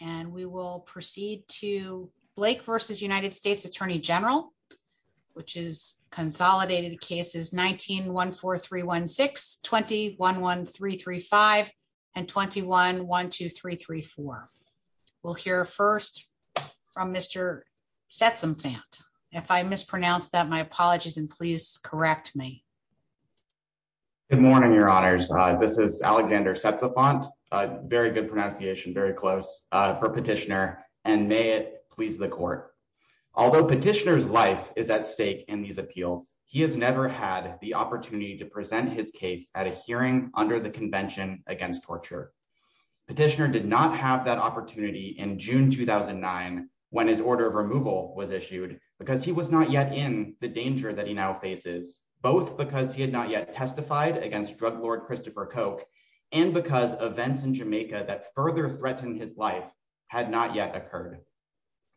And we will proceed to Blake v. U.S. Attorney General, which is consolidated cases 19-14316, 20-11335, and 21-12334. We'll hear first from Mr. Setzenfant. If I mispronounce that, my apologies, and please correct me. Good morning, Your Honors. This is for Petitioner, and may it please the Court. Although Petitioner's life is at stake in these appeals, he has never had the opportunity to present his case at a hearing under the Convention Against Torture. Petitioner did not have that opportunity in June 2009 when his order of removal was issued because he was not yet in the danger that he now faces, both because he had not yet testified against drug lord Christopher Koch, and because events in Jamaica that further threatened his life had not yet occurred.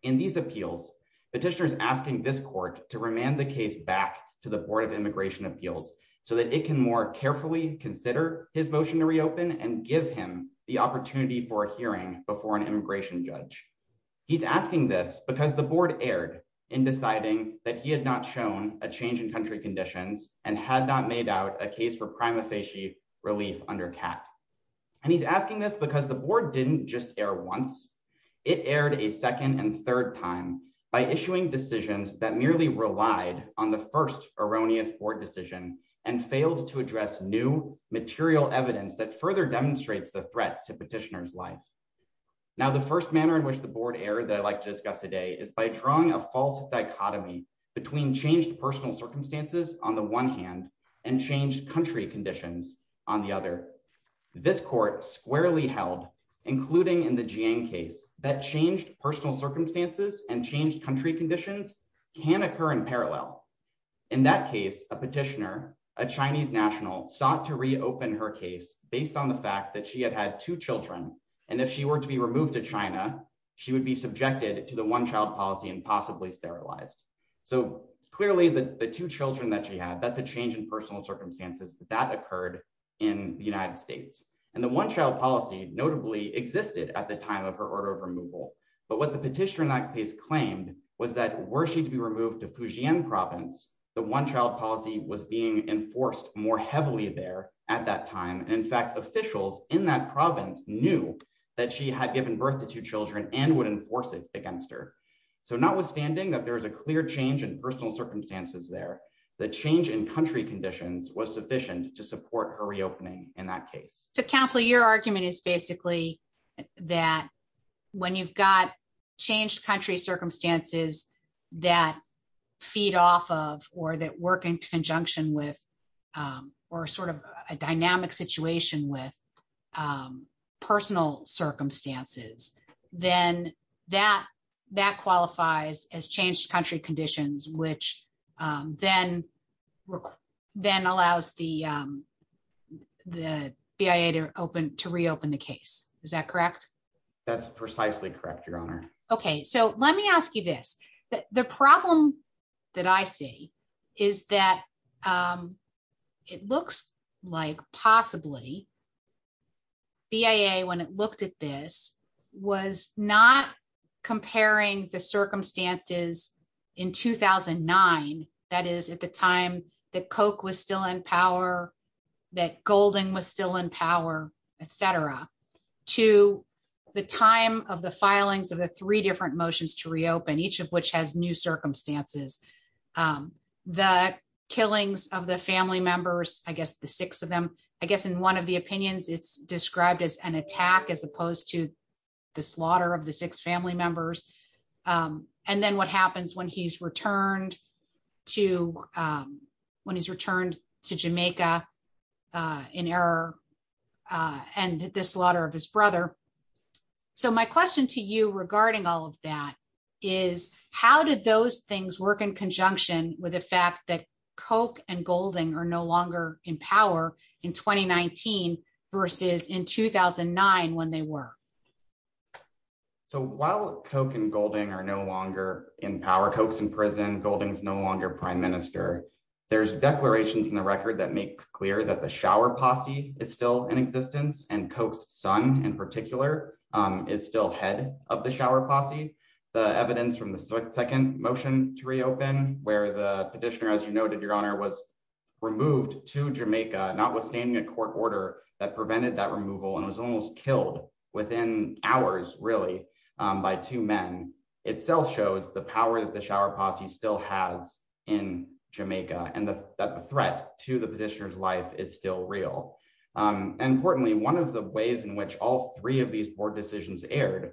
In these appeals, Petitioner is asking this Court to remand the case back to the Board of Immigration Appeals so that it can more carefully consider his motion to reopen and give him the opportunity for a hearing before an immigration judge. He's asking this because the Board erred in deciding that he had not shown a change in country conditions and had not made out a case for prima facie relief under CAT. And he's asking this because the Board didn't just err once. It erred a second and third time by issuing decisions that merely relied on the first erroneous Board decision and failed to address new material evidence that further demonstrates the threat to Petitioner's life. Now, the first manner in which the Board erred that I'd like to discuss today is by drawing a false dichotomy between changed personal circumstances on the one hand and changed country conditions on the other. This Court squarely held, including in the Jiang case, that changed personal circumstances and changed country conditions can occur in parallel. In that case, a Petitioner, a Chinese national, sought to reopen her case based on the fact that she had had two children, and if she were to be removed to China, she would be subjected to the one-child policy and possibly sterilized. So clearly, the two children that she had, that's a change in personal circumstances that occurred in the United States. And the one-child policy notably existed at the time of her order of removal. But what the Petitioner in that case claimed was that were she to be removed to Fujian province, the one-child policy was being enforced more heavily there at that time. And in fact, officials in that province knew that she had given birth to two children and would enforce it against her. So notwithstanding that there is a clear change in personal circumstances there, the change in country conditions was sufficient to support her reopening in that case. So counsel, your argument is basically that when you've got changed country circumstances that feed off of, or that work in conjunction with, or sort of a dynamic situation with personal circumstances, then that qualifies as changed country conditions, which then allows the BIA to reopen the case. Is that correct? That's precisely correct, Your Honor. Okay. So let me ask you this. The problem that I see is that it looks like possibly BIA, when it looked at this, was not comparing the circumstances in 2009, that is at the time that Koch was still in power, that Golding was still in power, et cetera, to the time of the filings of the three different motions to reopen, each of which has new circumstances. The killings of the family members, I guess the six of them, I guess in one of the opinions, it's described as an attack as opposed to the slaughter of the six family members. And then what happens when he's returned to Jamaica in error and the slaughter of his brother. So my question to you regarding all of that is, how did those things work in conjunction with the are no longer in power in 2019 versus in 2009 when they were? So while Koch and Golding are no longer in power, Koch's in prison, Golding's no longer prime minister, there's declarations in the record that makes clear that the shower posse is still in existence and Koch's son in particular is still head of the shower posse. The evidence from the second motion to reopen where the petitioner, as you noted, your honor, was removed to Jamaica, notwithstanding a court order that prevented that removal and was almost killed within hours really by two men itself shows the power that the shower posse still has in Jamaica and that the threat to the petitioner's life is still real. And importantly, one of the ways in which all three of these board decisions aired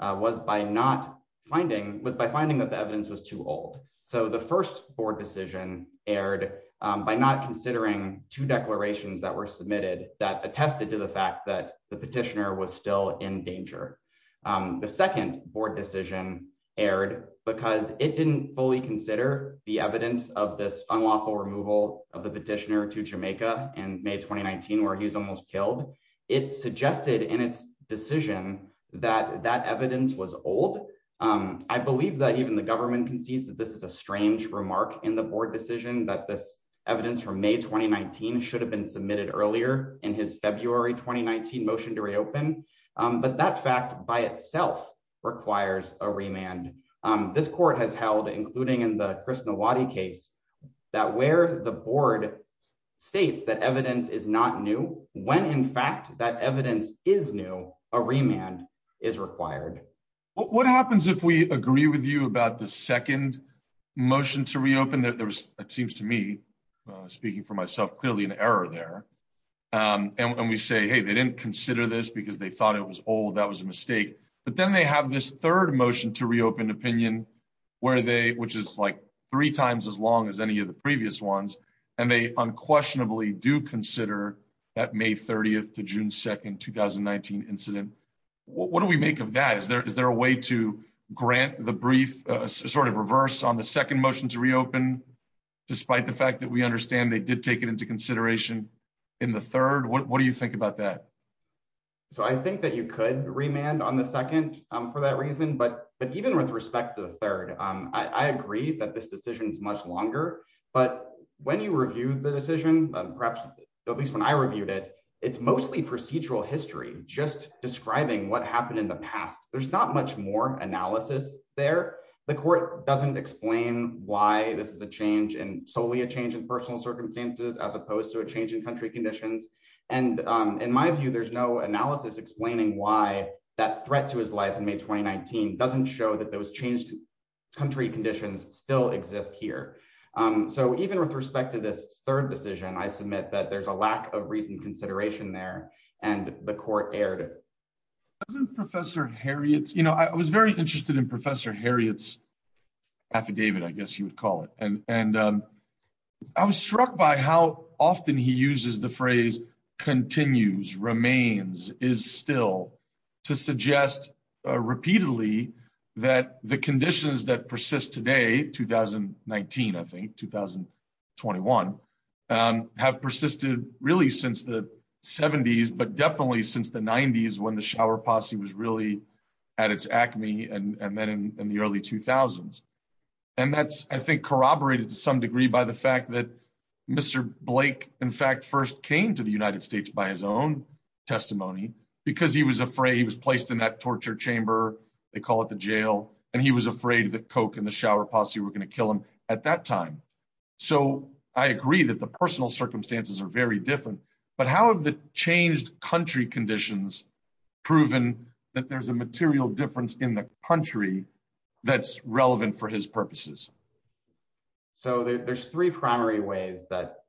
was by not finding, was by finding that the evidence was too old. So the first board decision aired by not considering two declarations that were submitted that attested to the fact that the petitioner was still in danger. The second board decision aired because it didn't fully consider the evidence of this unlawful removal of the petitioner to Jamaica in May 2019 where he's almost killed. It suggested in its decision that that evidence was old. I believe that even the government concedes that this is a strange remark in the board decision that this evidence from May 2019 should have been submitted earlier in his February 2019 motion to reopen. But that fact by itself requires a remand. This court has held, including in the Krishnawati case, that where the board states that evidence is not new, when in fact that evidence is new, a remand is required. What happens if we agree with you about the second motion to reopen? There was, it seems to me, speaking for myself, clearly an error there. And we say, hey, they didn't consider this because they thought it was old. That was a mistake. But then they have this third motion to any of the previous ones and they unquestionably do consider that May 30th to June 2nd, 2019 incident. What do we make of that? Is there a way to grant the brief sort of reverse on the second motion to reopen despite the fact that we understand they did take it into consideration in the third? What do you think about that? So I think that you could remand on the second for that reason. But even with respect to the third, I agree that this decision is much longer. But when you review the decision, perhaps at least when I reviewed it, it's mostly procedural history, just describing what happened in the past. There's not much more analysis there. The court doesn't explain why this is a change and solely a change in personal circumstances as opposed to a change in country conditions. And in my view, there's no analysis explaining why that threat to his life in May 2019 doesn't show that those changed country conditions still exist here. So even with respect to this third decision, I submit that there's a lack of reasoned consideration there and the court erred. I was very interested in Professor Harriet's affidavit, I guess you would call it. And I was struck by how often he uses the phrase continues, remains, is still to suggest repeatedly that the conditions that persist today, 2019, I think, 2021, have persisted really since the 70s, but definitely since the 90s when the shower posse was really at its acme and then in the early 2000s. And that's, I think, corroborated to some degree by the fact that Mr. Blake, in fact, first came to the United States by his own testimony because he was afraid he was placed in that torture chamber, they call it the jail, and he was afraid that Coke and the shower posse were going to kill him at that time. So I agree that the personal circumstances are very different, but how have the changed country conditions proven that there's a material difference in the country that's relevant for his purposes? So there's three primary ways that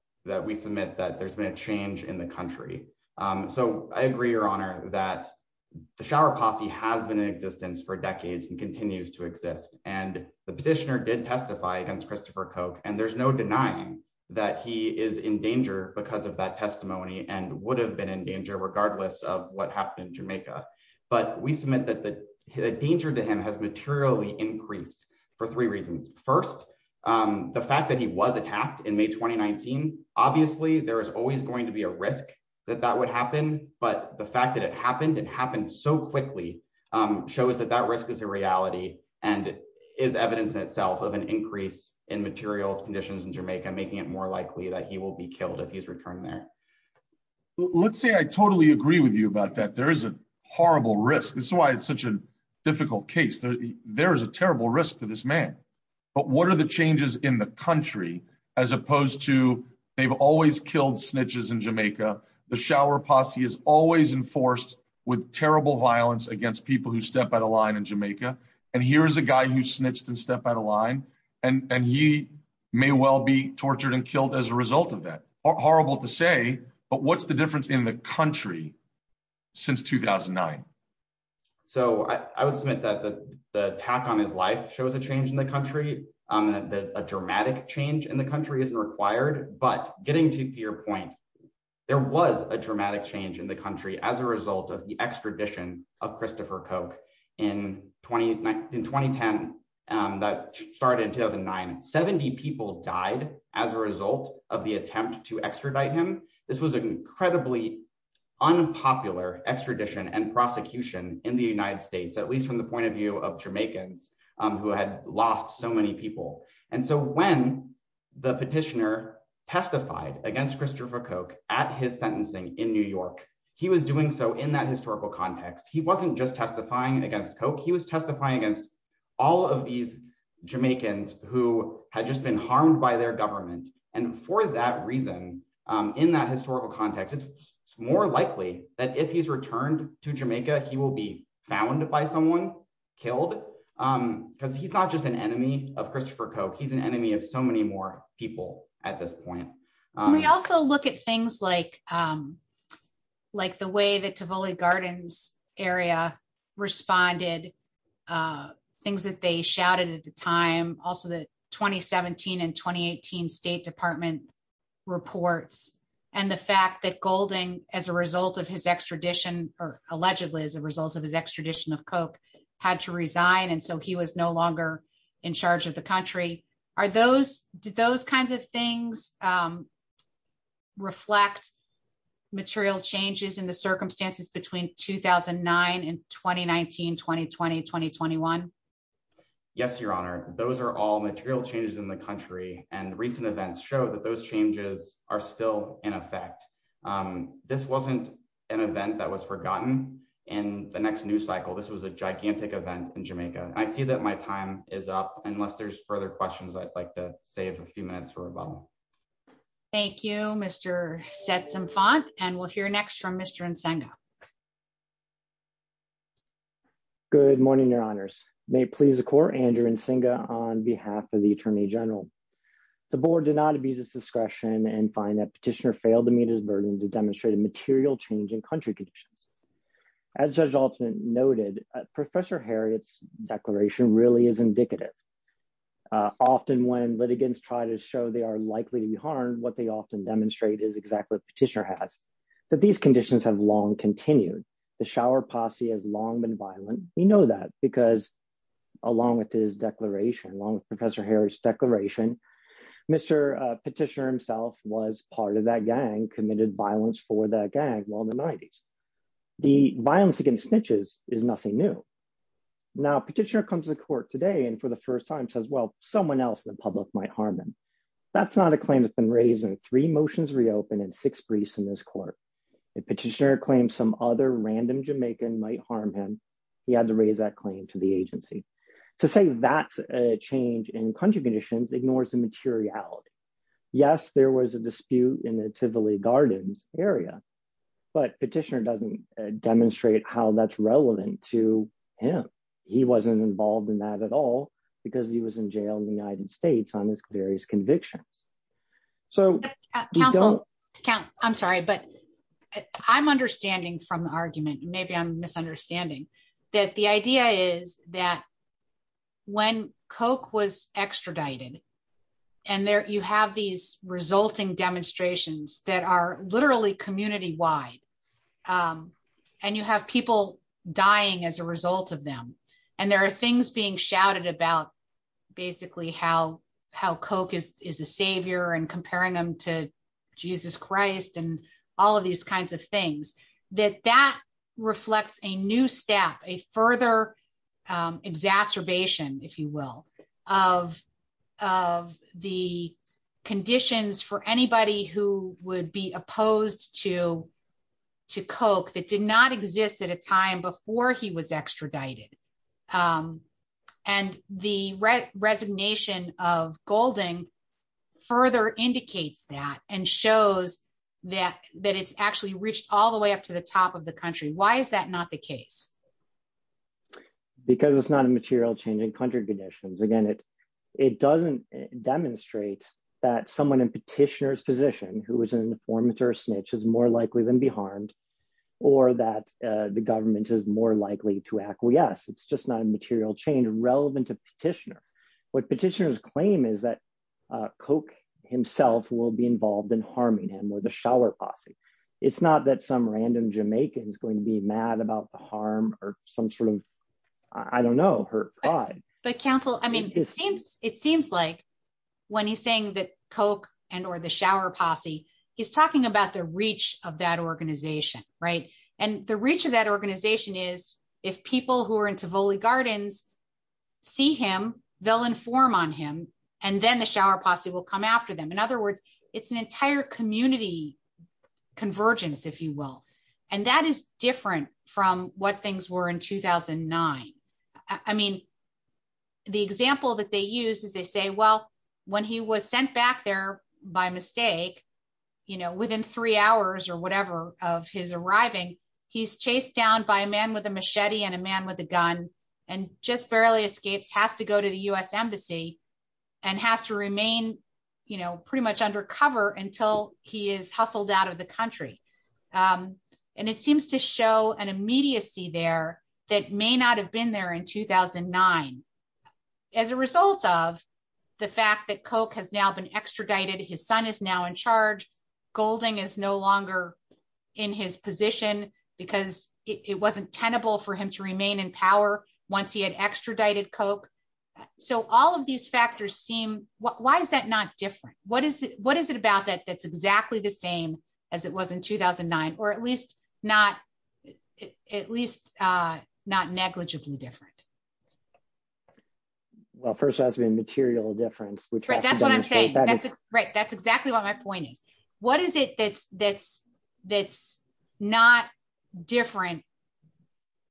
we submit that there's been a change in the country. So I agree, Your Honor, that the shower posse has been in existence for decades and continues to exist. And the petitioner did testify against Christopher Coke, and there's no denying that he is in danger because of that testimony and would have been in danger regardless of what happened in Jamaica. But we submit that the danger to him has materially increased for three reasons. First, the fact that he was attacked in May 2019. Obviously, there is always going to be a risk that that would happen. But the fact that it happened and happened so quickly shows that that risk is a reality and is evidence in itself of an increase in material conditions in Jamaica, making it more likely that he will be killed if he's returned there. Let's say I totally agree with you about that. There is a horrible risk. This is why it's such a difficult case. There is a terrible risk to this man. But what are the changes in the country as opposed to they've always killed snitches in Jamaica? The shower posse is always enforced with terrible violence against people who step out of line in Jamaica. And here's a guy who snitched and stepped out of line. And he may well be tortured and killed as a result of that. Horrible to say, but what's the difference in the country since 2009? So I would submit that the attack on his life shows a change in the country, that a dramatic change in the country isn't required. But getting to your point, there was a dramatic change in the country as a result of the extradition of Christopher Koch in 2010. That started in 2009. 70 people died as a result of the attempt to extradite him. This was an incredibly unpopular extradition and prosecution in the United States, at least from the point of view of Jamaicans who had lost so many people. And so when the petitioner testified against Christopher Koch at his sentencing in New York, he was doing so in that historical context. He wasn't just testifying against Koch. He was testifying against all of these Jamaicans who had just been harmed by their government. And for that reason, in that historical context, it's more likely that if he's returned to Jamaica, he will be found by someone, killed. Because he's not just an enemy of Christopher Koch. He's an enemy of so many more people at this point. We also look at things like the way the Tivoli Gardens area responded, things that they in 2017 and 2018 State Department reports, and the fact that Golding, as a result of his extradition, or allegedly as a result of his extradition of Koch, had to resign. And so he was no longer in charge of the country. Did those kinds of things reflect material changes in the circumstances between 2009 and 2019, 2020, 2021? Yes, Your Honor. Those are all material changes in the country. And recent events show that those changes are still in effect. This wasn't an event that was forgotten. In the next news cycle, this was a gigantic event in Jamaica. I see that my time is up. Unless there's further questions, I'd like to save a few minutes for rebuttal. Thank you, Mr. Setzenfant. And we'll hear next from Mr. Nsenga. Good morning, Your Honors. May it please the Court, Andrew Nsenga on behalf of the Attorney General. The Board did not abuse its discretion and find that Petitioner failed to meet his burden to demonstrate a material change in country conditions. As Judge Altman noted, Professor Harriot's declaration really is indicative. Often when litigants try to show they are likely to be harmed, what they often demonstrate is exactly what Petitioner has, that these conditions have continued. The Shower Posse has long been violent. We know that because along with Professor Harriot's declaration, Mr. Petitioner himself was part of that gang, committed violence for that gang while in the 90s. The violence against snitches is nothing new. Now, Petitioner comes to the Court today and for the first time says, well, someone else in the public might harm him. That's not a claim that's been raised in three motions reopened and six briefs in this Court. If Petitioner claims some other random Jamaican might harm him, he had to raise that claim to the agency. To say that's a change in country conditions ignores the materiality. Yes, there was a dispute in the Tivoli Gardens area, but Petitioner doesn't demonstrate how that's relevant to him. He wasn't involved in that at all because he was in jail in the United States on his various I'm understanding from the argument, maybe I'm misunderstanding, that the idea is that when Coke was extradited and you have these resulting demonstrations that are literally community-wide and you have people dying as a result of them and there are things being shouted about basically how Coke is a savior and comparing them to Jesus Christ and all of these kinds of things, that that reflects a new step, a further exacerbation, if you will, of the conditions for anybody who would be opposed to Coke that did not exist at a time before he was extradited. The resignation of Golding further indicates that and shows that it's actually reached all the way up to the top of the country. Why is that not the case? Because it's not a material change in country conditions. Again, it doesn't demonstrate that someone in Petitioner's position who is an informant or a snitch is more likely than be harmed or that the government is more likely to acquiesce. It's just not a material change relevant to Petitioner. What Petitioner's claim is that Coke himself will be involved in harming him or the Shower Posse. It's not that some random Jamaican is going to be mad about the harm or some sort of, I don't know, her pride. But Council, I mean, it seems like when he's saying that Coke and or the Shower Posse, he's talking about the reach of that organization, right? And the reach of that organization is if people who are in Tivoli Gardens see him, they'll inform on him, and then the Shower Posse will come after them. In other words, it's an entire community convergence, if you will. And that is different from what things were in 2009. I mean, the example that they use is they say, well, when he was sent back there by mistake, you know, within three hours or whatever of his arriving, he's chased down by a man with a machete and a man with a gun, and just barely escapes, has to go to the US Embassy, and has to remain, you know, pretty much undercover until he is hustled out of the country. And it seems to show an immediacy there that may not have been there in 2009. As a result of the fact that Coke has now been extradited, his son is now in charge, Golding is no longer in his position, because it wasn't tenable for him to remain in power once he had extradited Coke. So all of these factors seem, why is that not different? What is it? What is it about that that's exactly the same as it was in 2009? Or at least not, negligibly different? Well, first has to be a material difference. Right, that's exactly what my point is. What is it that's not different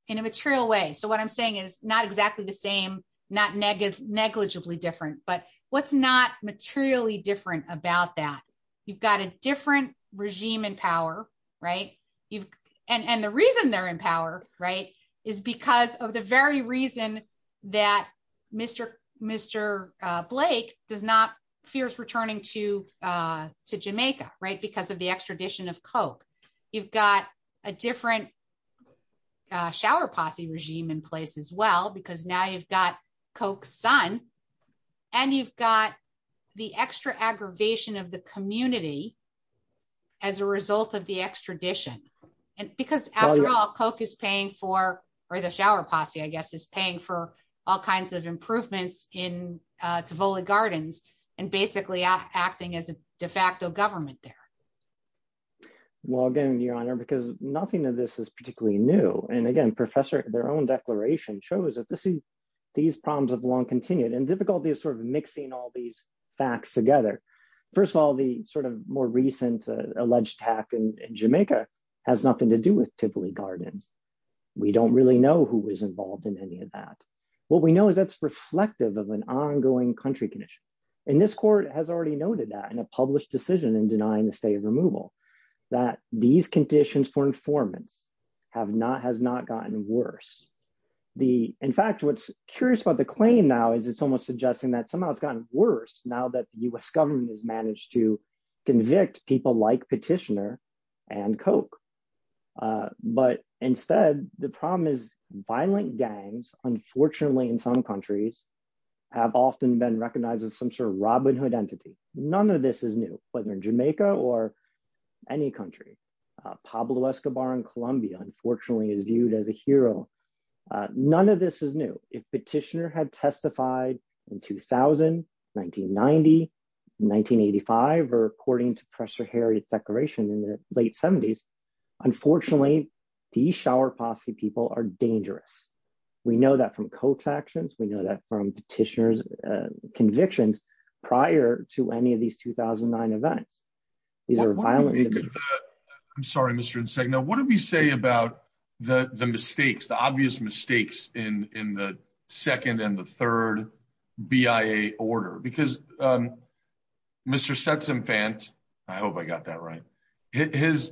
in a material way? So what I'm saying is not exactly the same, not negligibly different, but what's not materially different about that? You've got a different regime in power, right? And the reason they're in power, right, is because of the very reason that Mr. Blake does not fear returning to Jamaica, right, because of the extradition of Coke. You've got a different shower posse regime in place as well, because now you've got Coke's son. And you've got the extra aggravation of the community as a result of the extradition. And because after all, Coke is paying for, or the shower posse, I guess, is paying for all kinds of improvements in Tivoli Gardens, and basically acting as a de facto government there. Well, again, Your Honor, because nothing of this is particularly new. And again, Professor, their own declaration shows that this is, these problems have long difficulty of sort of mixing all these facts together. First of all, the sort of more recent alleged attack in Jamaica has nothing to do with Tivoli Gardens. We don't really know who was involved in any of that. What we know is that's reflective of an ongoing country condition. And this court has already noted that in a published decision in denying the state of removal, that these conditions for informants have not, has not gotten worse. The, in fact, what's curious about the claim now is it's almost suggesting that somehow it's gotten worse now that the U.S. government has managed to convict people like Petitioner and Coke. But instead, the problem is violent gangs, unfortunately, in some countries, have often been recognized as some sort of Robin Hood entity. None of this is new, whether in Jamaica or any country. Pablo Escobar in Jamaica, Petitioner had testified in 2000, 1990, 1985, or according to Professor Harriet's declaration in the late 70s. Unfortunately, these shower posse people are dangerous. We know that from Coke's actions. We know that from Petitioner's convictions prior to any of these 2009 events. These are violent. I'm sorry, Mr. Insegno. What do we say about the mistakes, the obvious mistakes in the second and the third BIA order? Because Mr. Setzenfant, I hope I got that right, his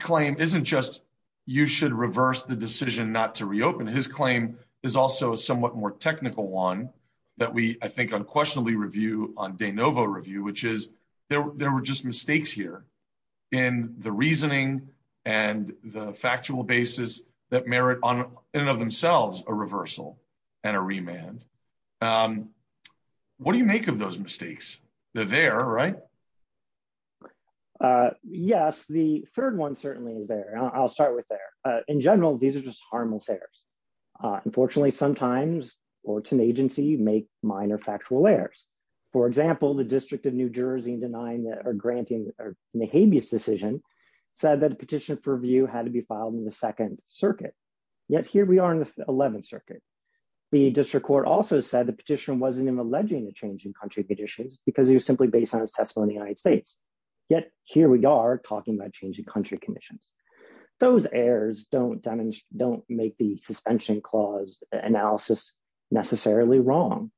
claim isn't just you should reverse the decision not to reopen. His claim is also a somewhat more technical one that we, I think, unquestionably review on mistakes here in the reasoning and the factual basis that merit in and of themselves a reversal and a remand. What do you make of those mistakes? They're there, right? Yes, the third one certainly is there. I'll start with there. In general, these are just harmless errors. Unfortunately, sometimes, or to an agency, you make minor factual errors. For example, the District of New Jersey denying or granting a habeas decision said that a petition for review had to be filed in the Second Circuit. Yet here we are in the Eleventh Circuit. The District Court also said the petitioner wasn't even alleging a change in country conditions because he was simply based on his testimony in the United States. Yet here we are talking about changing country conditions. Those errors don't make the suspension clause analysis necessarily wrong.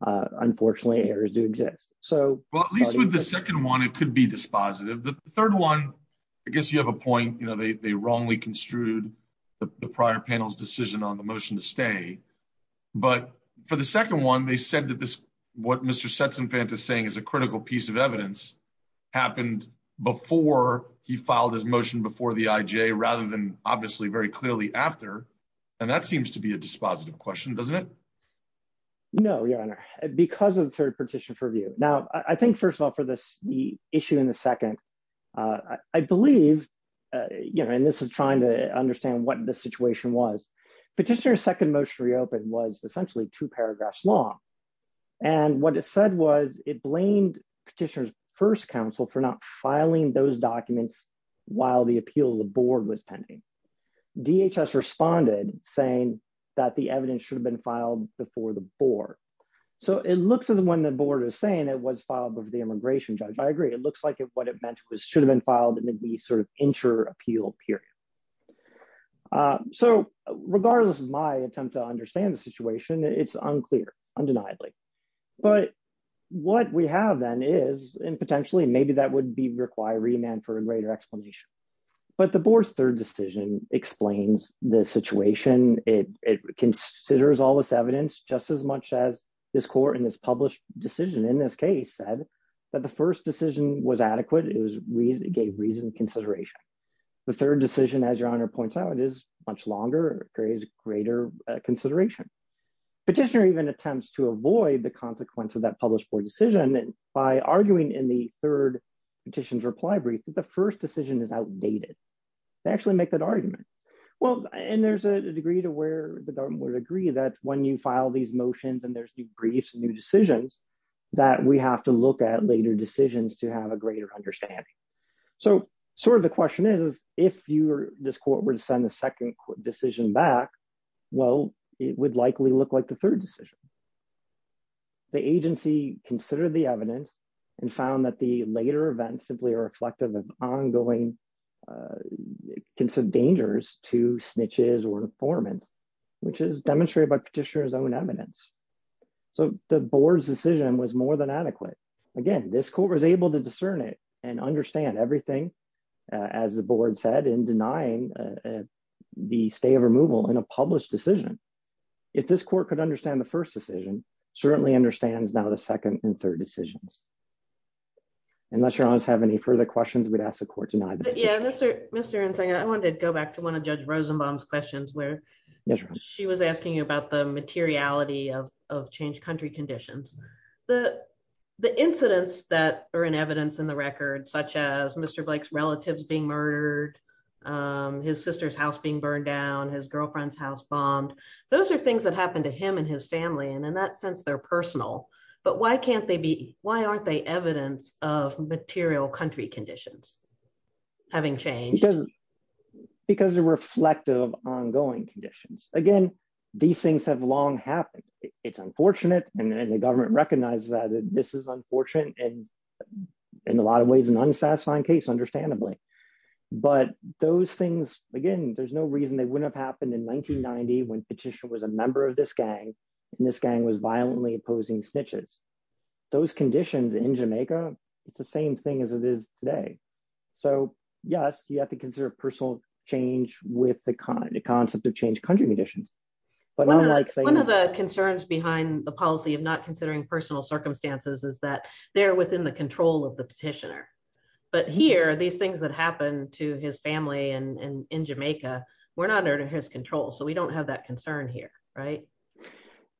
Unfortunately, errors do exist. Well, at least with the second one, it could be dispositive. The third one, I guess you have a point. They wrongly construed the prior panel's decision on the motion to stay. For the second one, they said that what Mr. Setsenfant is saying is a critical piece of evidence happened before he filed his motion before the IJ rather than obviously very clearly after. That seems to be a dispositive question, doesn't it? No, Your Honor, because of the third petition for review. Now, I think, first of all, for the issue in the second, I believe, and this is trying to understand what the situation was, petitioner's second motion to reopen was essentially two paragraphs long. And what it said was it blamed petitioner's first counsel for not filing those documents while the appeal of the board was pending. DHS responded saying that the evidence should have been filed before the board. So it looks as when the board is saying it was filed with the immigration judge. I agree. It looks like what it meant was should have been filed in the sort of inter-appeal period. So regardless of my attempt to understand the situation, it's unclear, undeniably. But what we have then is, and potentially maybe that would require remand for a greater explanation. But the board's third decision explains the situation. It considers all this evidence, just as much as this court in this published decision in this case said that the first decision was adequate. It gave reasoned consideration. The third decision, as Your Honor points out, is much longer, carries greater consideration. Petitioner even attempts to avoid the consequence of that published board decision by arguing in the third petition's reply brief that the first decision is outdated. They actually make that argument. Well, and there's a degree to where the government would agree that when you file these motions and there's new briefs and new decisions, that we have to look at later decisions to have a greater understanding. So sort of the question is, if this court were to send the second decision back, well, it would likely look like the third decision. The agency considered the evidence and found that the later events simply are reflective of ongoing dangers to snitches or informants, which is demonstrated by Petitioner's own evidence. So the board's decision was more than adequate. Again, this court was able to discern it and understand everything, as the board said, in denying the stay of removal in a published decision. If this court could understand the first decision, certainly understands now the second and third decisions. Unless your honors have any further questions, we'd ask the court tonight. Yeah, Mr. Insanga, I wanted to go back to one of Judge Rosenbaum's questions where she was asking you about the materiality of changed country conditions. The incidents that are in evidence in the record, such as Mr. Blake's relatives being murdered, his sister's house being burned down, his girlfriend's house bombed, those are things that happened to him and his family, and in that sense, they're personal. But why can't they be, why aren't they evidence of material country conditions having changed? Because they're reflective of ongoing conditions. Again, these things have long happened. It's unfortunate, and the government recognizes that this is unfortunate, and in a lot of ways, an unsatisfying case, understandably. But those things, again, there's no reason they wouldn't have happened in 1990 when Petitioner was a member of this gang, and this gang was violently opposing snitches. Those conditions in Jamaica, it's the same thing as it is today. So yes, you have to consider personal change with the concept of changed country conditions. One of the concerns behind the policy of not considering personal circumstances is that they're within the control of the Petitioner. But here, these things that happened to his family in Jamaica were not under his control, so we don't have that concern here, right?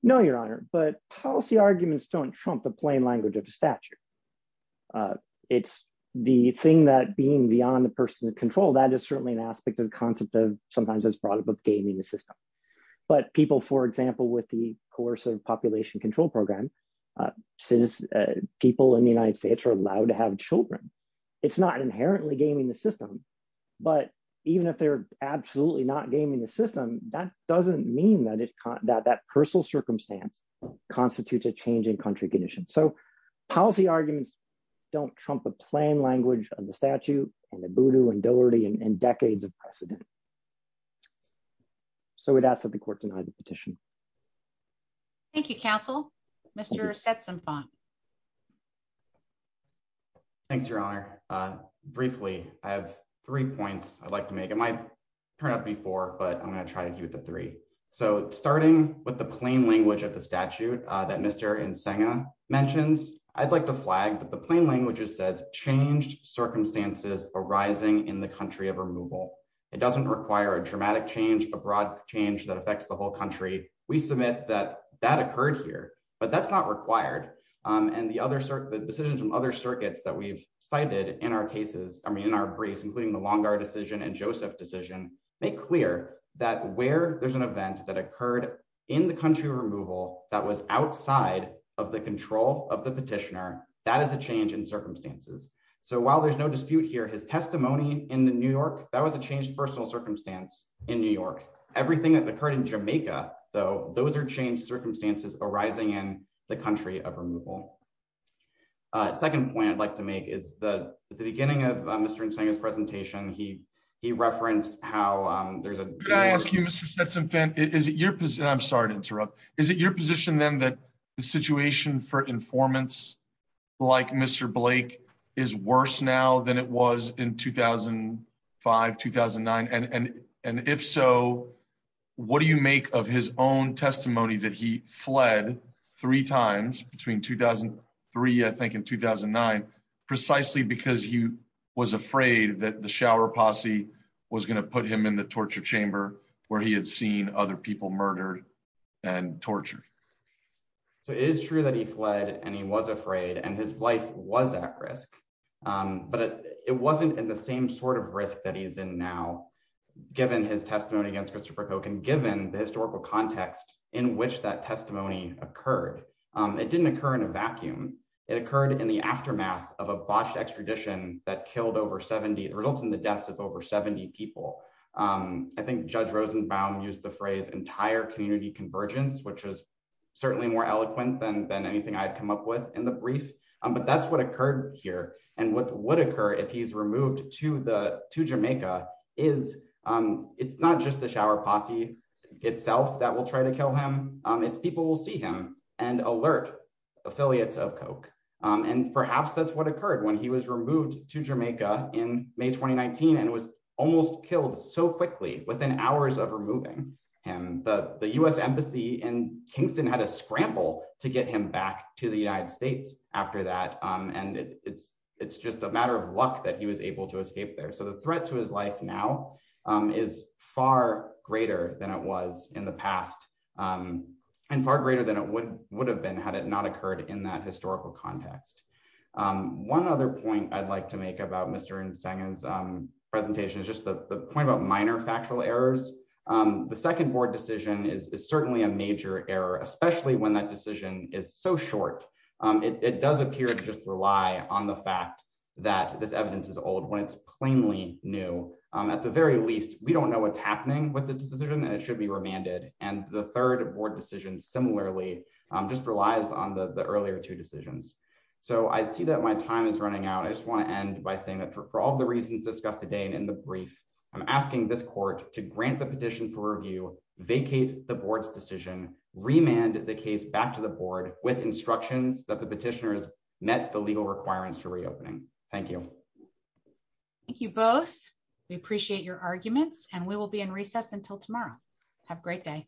No, Your Honor, but policy arguments don't trump the plain language of the statute. It's the thing that being beyond the person's control, that is certainly an aspect of the concept of sometimes it's brought up of gaming the system. But people, for example, with the Coercive Population Control Program, people in the United States are allowed to have children. It's not inherently gaming the system, but even if they're absolutely not gaming the system, that doesn't mean that that personal circumstance constitutes a change in country condition. So policy arguments don't trump the plain language of the statute and the voodoo and doherty and decades of precedent. So we'd ask that the court deny the petition. Thank you, counsel. Mr. Setzenfant. Thanks, Your Honor. Briefly, I have three points I'd like to make. It might turn out to be four, but I'm going to try to keep it to three. So starting with the plain language of the statute that Mr. Nsenga mentions, I'd like to flag that the plain language says, changed circumstances arising in the country of removal. It doesn't require a dramatic change, a broad change that affects the whole country. We submit that that occurred here, but that's not required. The decisions from other circuits that we've cited in our briefs, including the Longar decision and Joseph decision, make clear that where there's an event that occurred in the country of removal that was outside of the control of the petitioner, that is a change in circumstances. So while there's no dispute here, his testimony in New York, that was a changed personal circumstance in New York. Everything that occurred in Jamaica, though, those are changed circumstances arising in the country of removal. Second point I'd like to make is that at the beginning of Mr. Nsenga's presentation, he referenced how there's a... Could I ask you, Mr. Setzenfant, is it your position, I'm sorry to interrupt, is it your position then that the situation for informants like Mr. Blake is worse now than it was in 2005, 2009? And if so, what do you make of his own testimony that he fled three times between 2003, I think in 2009, precisely because he was afraid that the shower posse was going to put him in the torture chamber where he had seen other people murdered and but it wasn't in the same sort of risk that he's in now, given his testimony against Christopher Kochan, given the historical context in which that testimony occurred. It didn't occur in a vacuum. It occurred in the aftermath of a botched extradition that killed over 70, it resulted in the deaths of over 70 people. I think Judge Rosenbaum used the phrase entire community convergence, which is certainly more eloquent than anything I'd come up with in the brief. But that's what occurred here. And what would occur if he's removed to Jamaica is, it's not just the shower posse itself that will try to kill him, it's people will see him and alert affiliates of Koch. And perhaps that's what occurred when he was removed to Jamaica in May 2019. And it was almost killed so quickly within hours of removing him. The US embassy in Kingston had a scramble to get him back to the United States after that. And it's just a matter of luck that he was able to escape there. So the threat to his life now is far greater than it was in the past. And far greater than it would have been had it not occurred in that historical context. One other point I'd like to make about Mr. Ntsenga's presentation is just the point about factual errors. The second board decision is certainly a major error, especially when that decision is so short. It does appear to just rely on the fact that this evidence is old when it's plainly new. At the very least, we don't know what's happening with the decision and it should be remanded. And the third board decision similarly, just relies on the earlier two decisions. So I see that my time is running out. I just want to end by saying that for all the reasons discussed today and in the brief, I'm asking this court to grant the petition for review, vacate the board's decision, remand the case back to the board with instructions that the petitioners met the legal requirements for reopening. Thank you. Thank you both. We appreciate your arguments and we will be in recess until tomorrow. Have a great day.